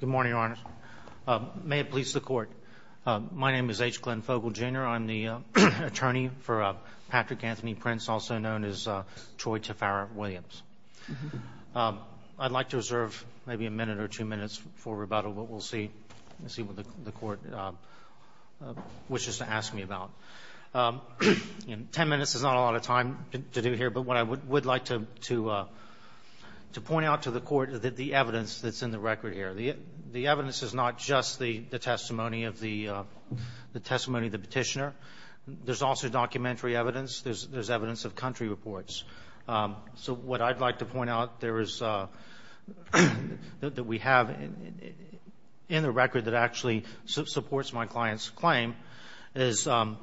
Good morning, Your Honor. May it please the Court, my name is H. Glenn Fogel, Jr. I'm the attorney for Patrick Anthony Prince, also known as Troy Taffara Williams. I'd like to reserve maybe a minute or two minutes for rebuttal, but we'll see what the Court wishes to ask me about. Ten minutes is not a lot of time to do here, but what I would like to point out to the Court is the evidence that's in the record here. The evidence is not just the testimony of the petitioner. There's also documentary evidence. There's evidence of country reports. So what I'd like to point out that we have in the record that actually supports my client's claim is that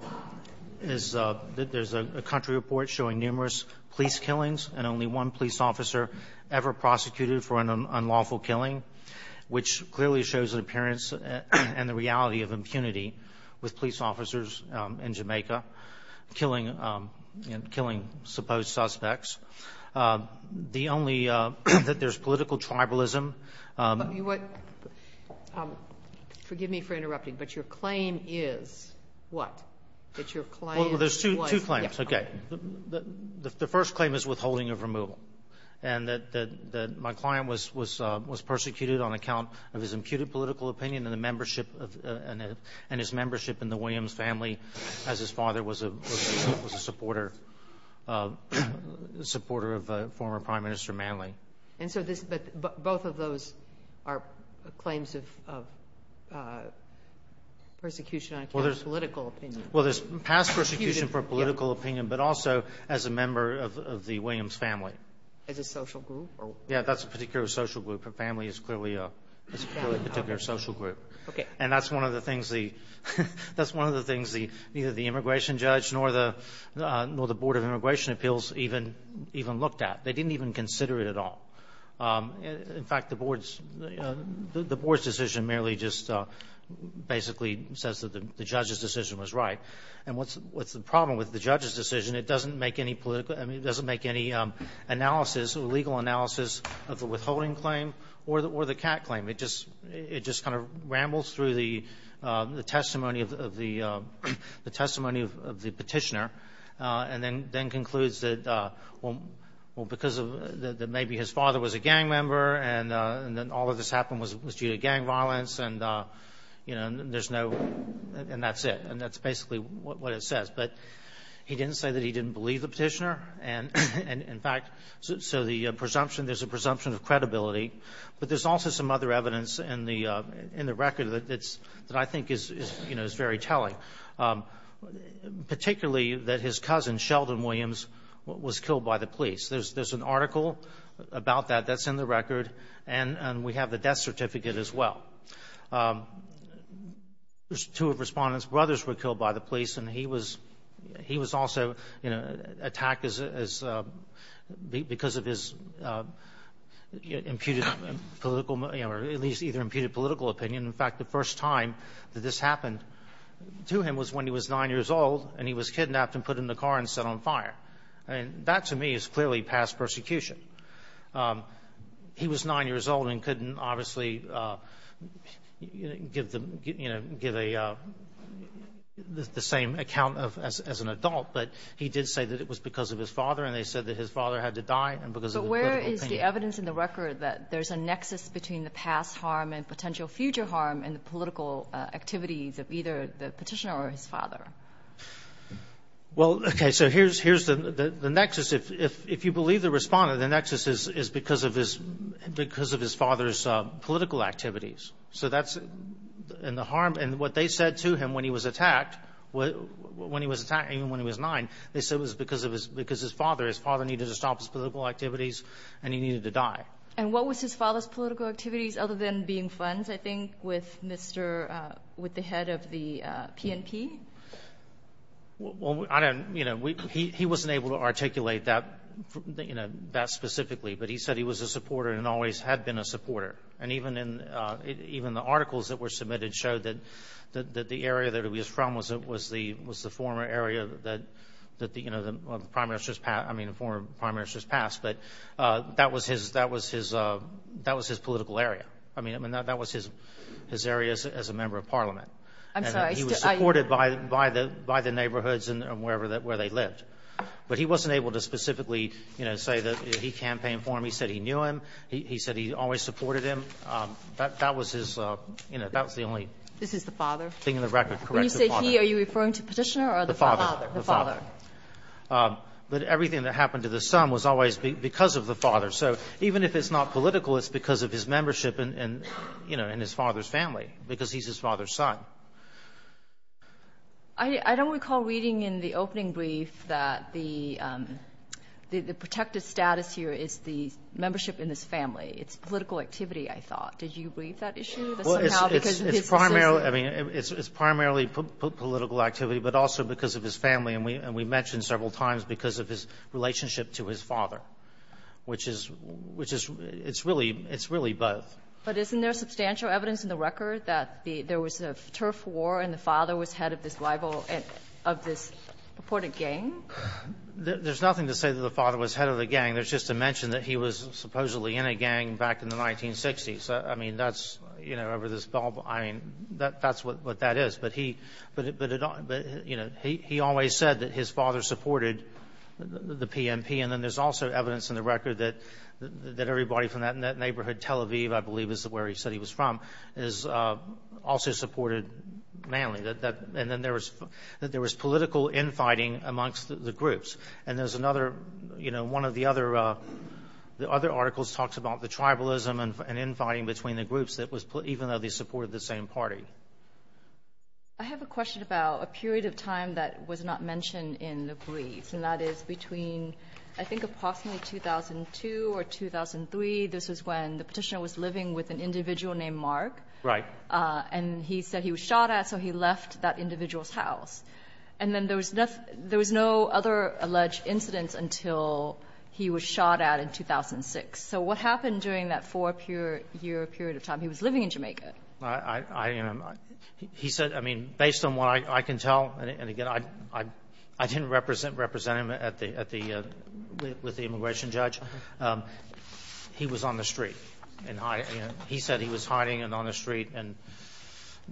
there's a country report showing numerous police killings and only one police officer ever prosecuted for an unlawful killing, which clearly shows an appearance and the reality of impunity with police officers in Jamaica, killing, you know, killing supposed suspects. The only that there's political tribalism. You what? Forgive me for interrupting, but your claim is what? That your claim was yes. Well, there's two claims. Okay. The first claim is withholding of removal, and that my client was persecuted on account of his imputed political opinion and his membership in the Williams family as his father was a supporter of former Prime Minister Manley. But both of those are claims of persecution on account of political opinion. Well, there's past persecution for political opinion, but also as a member of the Williams family. As a social group? Yeah, that's a particular social group. Her family is clearly a particular social group. Okay. And that's one of the things the immigration judge nor the Board of Immigration Appeals even looked at. They didn't even consider it at all. In fact, the board's decision merely just basically says that the judge's decision was right. And what's the problem with the judge's decision? It doesn't make any legal analysis of the withholding claim or the cat claim. It just kind of rambles through the testimony of the petitioner and then concludes that, well, because maybe his father was a gang member and then all of this happened was due to gang violence and, you know, there's no – and that's it. And that's basically what it says. But he didn't say that he didn't believe the petitioner. And, in fact, so the presumption – there's a presumption of credibility. But there's also some other evidence in the record that I think is very telling, particularly that his cousin, Sheldon Williams, was killed by the police. There's an article about that that's in the record, and we have the death certificate as well. There's two of respondents' brothers were killed by the police, and he was also, you know, attacked because of his imputed political – or at least either imputed political opinion. In fact, the first time that this happened to him was when he was 9 years old, and he was kidnapped and put in the car and set on fire. I mean, that to me is clearly past persecution. He was 9 years old and couldn't obviously, you know, give the same account as an adult, but he did say that it was because of his father, and they said that his father had to die and because of the political opinion. But where is the evidence in the record that there's a nexus between the past harm and potential future harm in the political activities of either the petitioner or his father? Well, okay, so here's the nexus. If you believe the respondent, the nexus is because of his father's political activities. So that's – and the harm – and what they said to him when he was attacked, when he was attacked even when he was 9, they said it was because of his father. His father needed to stop his political activities, and he needed to die. And what was his father's political activities other than being friends, I think, with Mr. – with the head of the PNP? Well, I don't – you know, he wasn't able to articulate that, you know, that specifically, but he said he was a supporter and always had been a supporter. And even in – even the articles that were submitted showed that the area that he was from was the former area that, you know, the Prime Minister's – I mean, the former Prime Minister's past. But that was his – that was his political area. I mean, that was his area as a member of Parliament. I'm sorry. He was supported by the neighborhoods and wherever – where they lived. But he wasn't able to specifically, you know, say that he campaigned for him. He said he knew him. He said he always supported him. That was his – you know, that was the only thing in the record. This is the father. Correct, the father. When you say he, are you referring to the petitioner or the father? The father. The father. But everything that happened to the son was always because of the father. So even if it's not political, it's because of his membership in, you know, in his father's family because he's his father's son. I don't recall reading in the opening brief that the protected status here is the membership in his family. It's political activity, I thought. Did you read that issue somehow? It's primarily – I mean, it's primarily political activity, but also because of his family. And we mentioned several times because of his relationship to his father, which is – which is – it's really – it's really both. But isn't there substantial evidence in the record that there was a turf war and the father was head of this rival – of this purported gang? There's nothing to say that the father was head of the gang. There's just a mention that he was supposedly in a gang back in the 1960s. I mean, that's – you know, over this – I mean, that's what that is. But he – but, you know, he always said that his father supported the PNP. And then there's also evidence in the record that everybody from that neighborhood, Tel Aviv, I believe is where he said he was from, is also supported manly. And then there was political infighting amongst the groups. And there's another – you know, one of the other articles talks about the tribalism and infighting between the groups that was – even though they supported the same party. I have a question about a period of time that was not mentioned in the briefs, and that is between, I think, approximately 2002 or 2003. This was when the petitioner was living with an individual named Mark. Right. And he said he was shot at, so he left that individual's house. And then there was no other alleged incidents until he was shot at in 2006. So what happened during that four-year period of time? He was living in Jamaica. I – he said – I mean, based on what I can tell, and again, I didn't represent him at the – with the immigration judge. He was on the street. And he said he was hiding on the street and,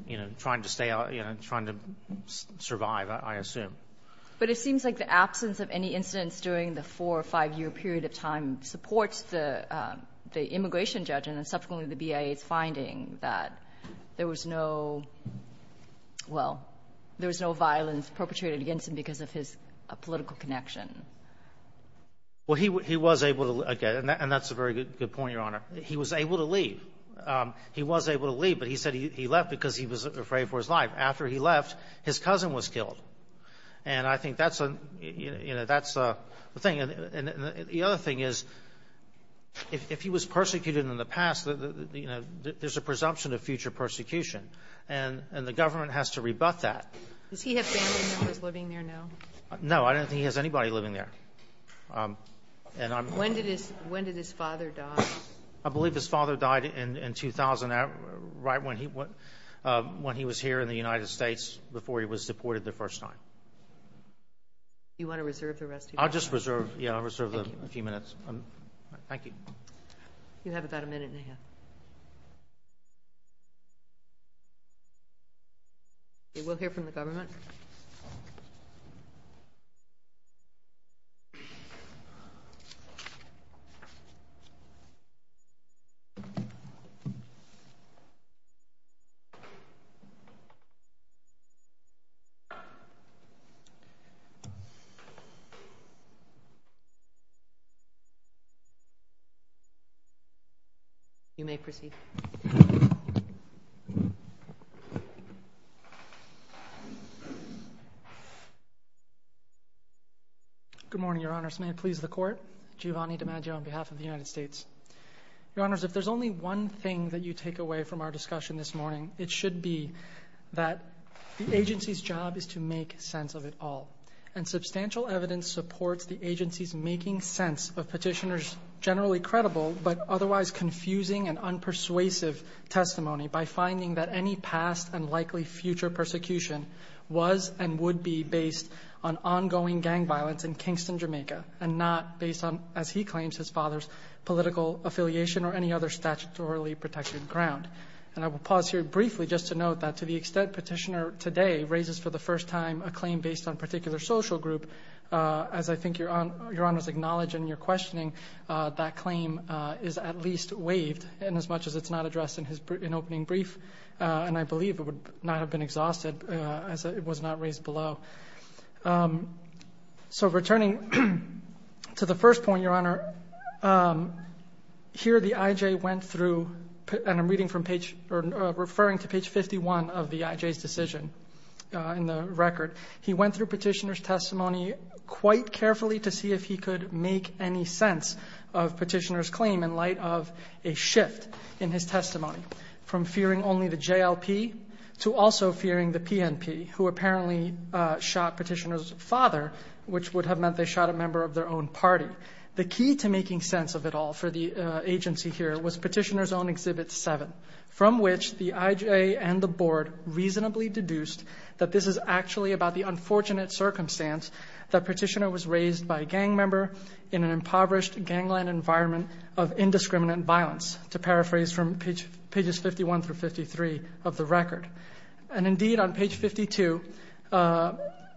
you know, trying to stay out – you know, trying to survive, I assume. But it seems like the absence of any incidents during the four- or five-year period of time supports the immigration judge and subsequently the BIA's finding that there was no – well, there was no violence perpetrated against him because of his political connection. Well, he was able to – and that's a very good point, Your Honor. He was able to leave. He was able to leave, but he said he left because he was afraid for his life. After he left, his cousin was killed. And I think that's a – you know, that's a thing. And the other thing is if he was persecuted in the past, you know, there's a presumption of future persecution. And the government has to rebut that. Does he have family members living there now? No. I don't think he has anybody living there. And I'm – When did his – when did his father die? I believe his father died in 2000, right when he was here in the United States before he was deported the first time. Do you want to reserve the rest of your time? I'll just reserve – yeah, I'll reserve a few minutes. Thank you. You have about a minute and a half. We'll hear from the government. Thank you. You may proceed. Good morning, Your Honor. First, may it please the Court, Giovanni DiMaggio on behalf of the United States. Your Honors, if there's only one thing that you take away from our discussion this morning, it should be that the agency's job is to make sense of it all. And substantial evidence supports the agency's making sense of petitioners' generally credible but otherwise confusing and unpersuasive testimony by finding that any past and likely future persecution was and would be based on ongoing gang violence in Kingston, Jamaica, and not based on, as he claims, his father's political affiliation or any other statutorily protected ground. And I will pause here briefly just to note that to the extent Petitioner today raises for the first time a claim based on a particular social group, as I think Your Honors acknowledge and you're questioning, that claim is at least waived inasmuch as it's not addressed in his – in opening brief. And I believe it would not have been exhausted as it was not raised below. So returning to the first point, Your Honor, here the IJ went through – and I'm reading from page – or referring to page 51 of the IJ's decision in the record. He went through Petitioner's testimony quite carefully to see if he could make any sense of Petitioner's claim in light of a shift in his testimony from fearing only the JLP to also fearing the PNP, who apparently shot Petitioner's father, which would have meant they shot a member of their own party. The key to making sense of it all for the agency here was Petitioner's own Exhibit 7, from which the IJ and the Board reasonably deduced that this is actually about the unfortunate circumstance that Petitioner was raised by a gang member in an impoverished gangland environment of indiscriminate violence, to paraphrase from pages 51 through 53 of the record. And indeed, on page 52,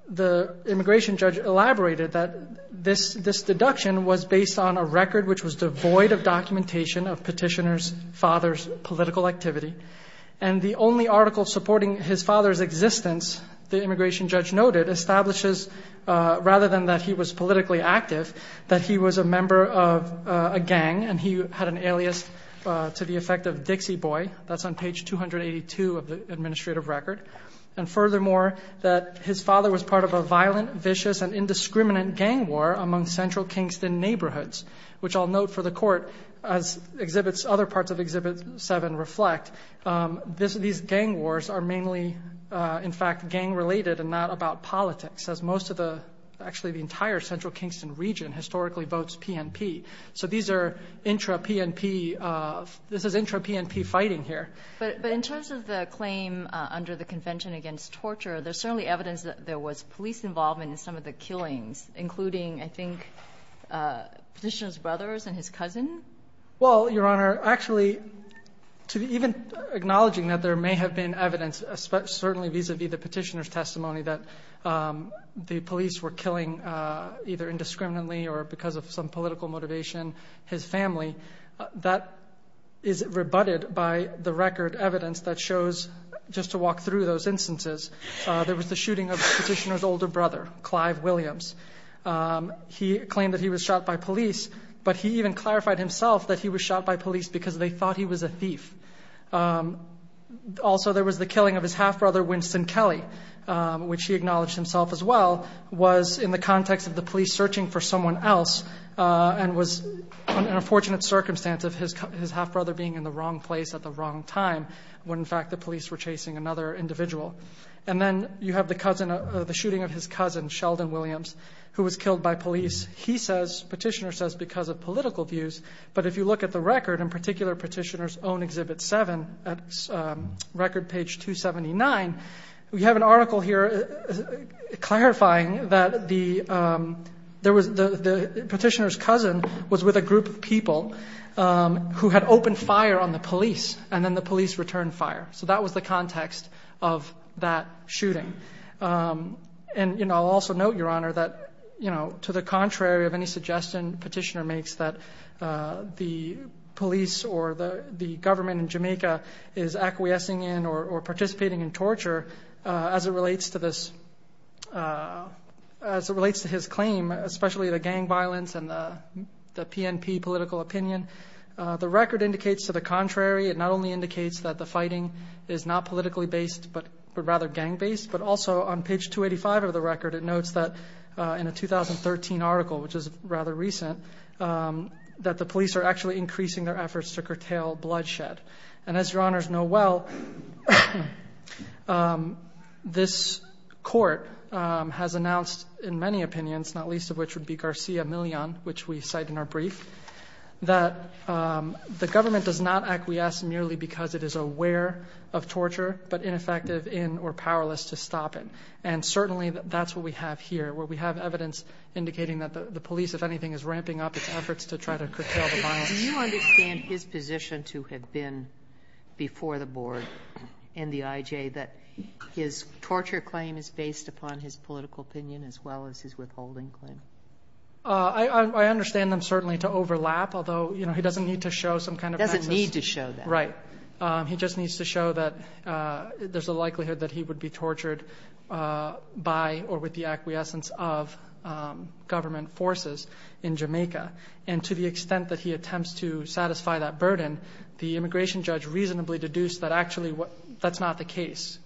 the immigration judge elaborated that this deduction was based on a record which was devoid of documentation of Petitioner's father's political activity. And the only article supporting his father's existence, the immigration judge noted, establishes rather than that he was politically active, that he was a member of a gang and he had an alias to the effect of Dixie Boy. That's on page 282 of the administrative record. And furthermore, that his father was part of a violent, vicious, and indiscriminate gang war among central Kingston neighborhoods, which I'll note for the Court, as other parts of Exhibit 7 reflect, these gang wars are mainly, in fact, gang-related and not about politics, as most of the entire central Kingston region historically votes PNP. So this is intra-PNP fighting here. But in terms of the claim under the Convention Against Torture, there's certainly evidence that there was police involvement in some of the killings, including, I think, Petitioner's brothers and his cousin? Well, Your Honor, actually, even acknowledging that there may have been evidence, certainly vis-à-vis the Petitioner's testimony that the police were killing either indiscriminately or because of some political motivation his family, that is rebutted by the record evidence that shows, just to walk through those instances, there was the shooting of Petitioner's older brother, Clive Williams. He claimed that he was shot by police, but he even clarified himself that he was shot by police because they thought he was a thief. Also there was the killing of his half-brother, Winston Kelly, which he acknowledged himself as well, was in the context of the police searching for someone else and was in a fortunate circumstance of his half-brother being in the wrong place at the wrong time, when, in fact, the police were chasing another individual. And then you have the shooting of his cousin, Sheldon Williams, who was killed by police. He says, Petitioner says, because of political views, but if you look at the record, in particular Petitioner's own Exhibit 7, at record page 279, we have an article here clarifying that Petitioner's cousin was with a group of people who had opened fire on the police, and then the police returned fire. So that was the context of that shooting. And I'll also note, Your Honor, that to the contrary of any suggestion Petitioner makes that the police or the government in Jamaica is acquiescing in or participating in torture, as it relates to his claim, especially the gang violence and the PNP political opinion, the record indicates to the contrary. It not only indicates that the fighting is not politically based, but rather gang-based, but also on page 285 of the record it notes that in a 2013 article, which is rather recent, that the police are actually increasing their efforts to curtail bloodshed. And as Your Honors know well, this Court has announced in many opinions, not least of which would be Garcia Millon, which we cite in our brief, that the government does not acquiesce merely because it is aware of torture, but ineffective in or powerless to stop it. And certainly that's what we have here, where we have evidence indicating that the police, if anything, is ramping up its efforts to try to curtail the violence. Do you understand his position to have been, before the Board and the IJ, that his torture claim is based upon his political opinion as well as his withholding claim? I understand them certainly to overlap, although he doesn't need to show some kind of basis. He doesn't need to show that. Right. He just needs to show that there's a likelihood that he would be tortured by or with the acquiescence of government forces in Jamaica. And to the extent that he attempts to satisfy that burden, the immigration judge reasonably deduced that actually that's not the case,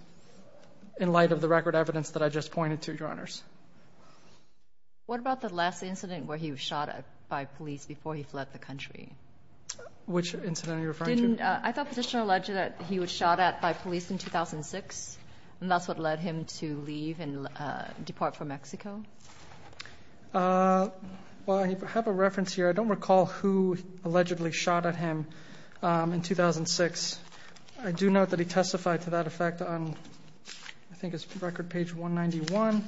in light of the record evidence that I just pointed to, Your Honors. What about the last incident where he was shot at by police before he fled the country? Which incident are you referring to? I thought Petitioner alleged that he was shot at by police in 2006, and that's what led him to leave and depart from Mexico? Well, I have a reference here. I don't recall who allegedly shot at him in 2006. I do note that he testified to that effect on I think it's record page 191.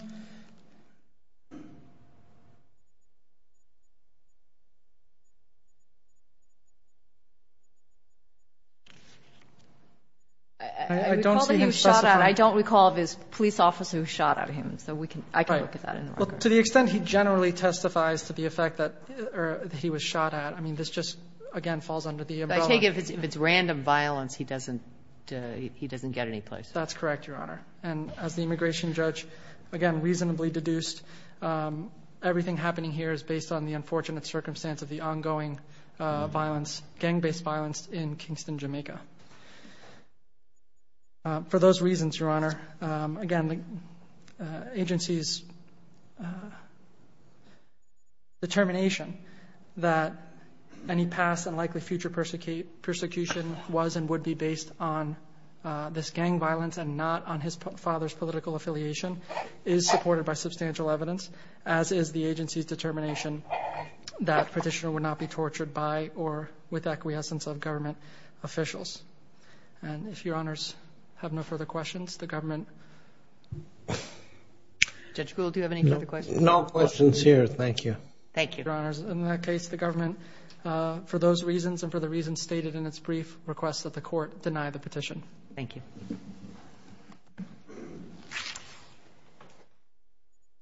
I don't see him specifying. I don't recall if it was a police officer who shot at him, so I can look at that. Well, to the extent he generally testifies to the effect that he was shot at, I mean, this just, again, falls under the umbrella. I take it if it's random violence, he doesn't get any place. That's correct, Your Honor. And as the immigration judge, again, reasonably deduced, everything happening here is based on the unfortunate circumstance of the ongoing violence, gang-based violence in Kingston, Jamaica. For those reasons, Your Honor, again, the agency's determination that any past and likely future persecution was and would be based on this gang violence and not on his father's political affiliation is supported by substantial evidence, as is the agency's determination that Petitioner would not be tortured by or with acquiescence of government officials. And if Your Honors have no further questions, the government. Judge Gould, do you have any further questions? No questions here. Thank you. Thank you. Your Honors, in that case, the government, for those reasons and for the reasons stated in its brief, requests that the court deny the petition. Thank you. Thank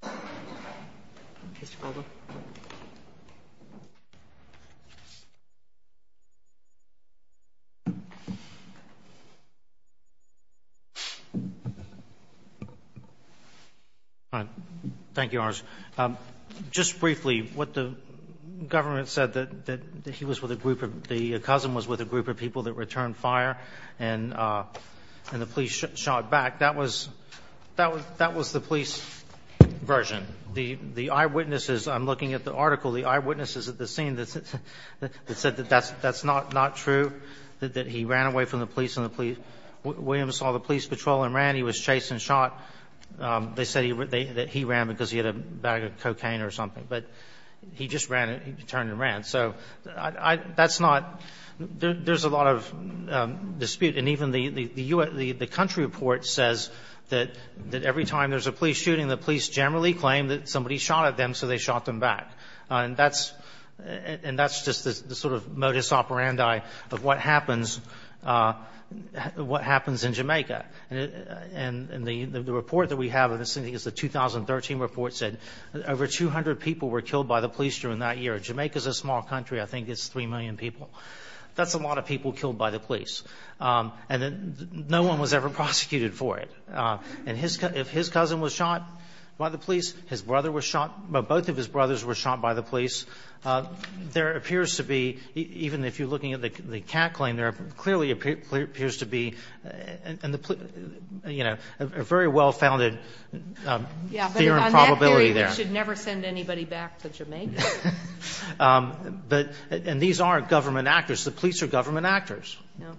you. Thank you, Your Honors. Just briefly, what the government said, that he was with a group of the — that was the police version. The eyewitnesses, I'm looking at the article, the eyewitnesses at the scene that said that that's not true, that he ran away from the police and the police — William saw the police patrol and ran. He was chased and shot. They said that he ran because he had a bag of cocaine or something. But he just ran and turned and ran. So that's not — there's a lot of dispute. And even the country report says that every time there's a police shooting, the police generally claim that somebody shot at them, so they shot them back. And that's just the sort of modus operandi of what happens in Jamaica. And the report that we have, I think it's the 2013 report, said over 200 people were killed by the police during that year. Jamaica is a small country. I think it's 3 million people. That's a lot of people killed by the police. And no one was ever prosecuted for it. And if his cousin was shot by the police, his brother was shot. Both of his brothers were shot by the police. There appears to be, even if you're looking at the CAC claim, there clearly appears to be a very well-founded fear and probability there. But on that theory, they should never send anybody back to Jamaica. And these aren't government actors. The police are government actors.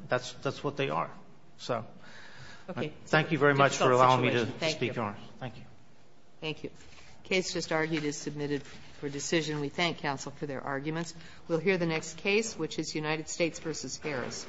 That's what they are. So thank you very much for allowing me to speak on it. Thank you. Thank you. The case just argued is submitted for decision. We thank counsel for their arguments. We'll hear the next case, which is United States v. Harris.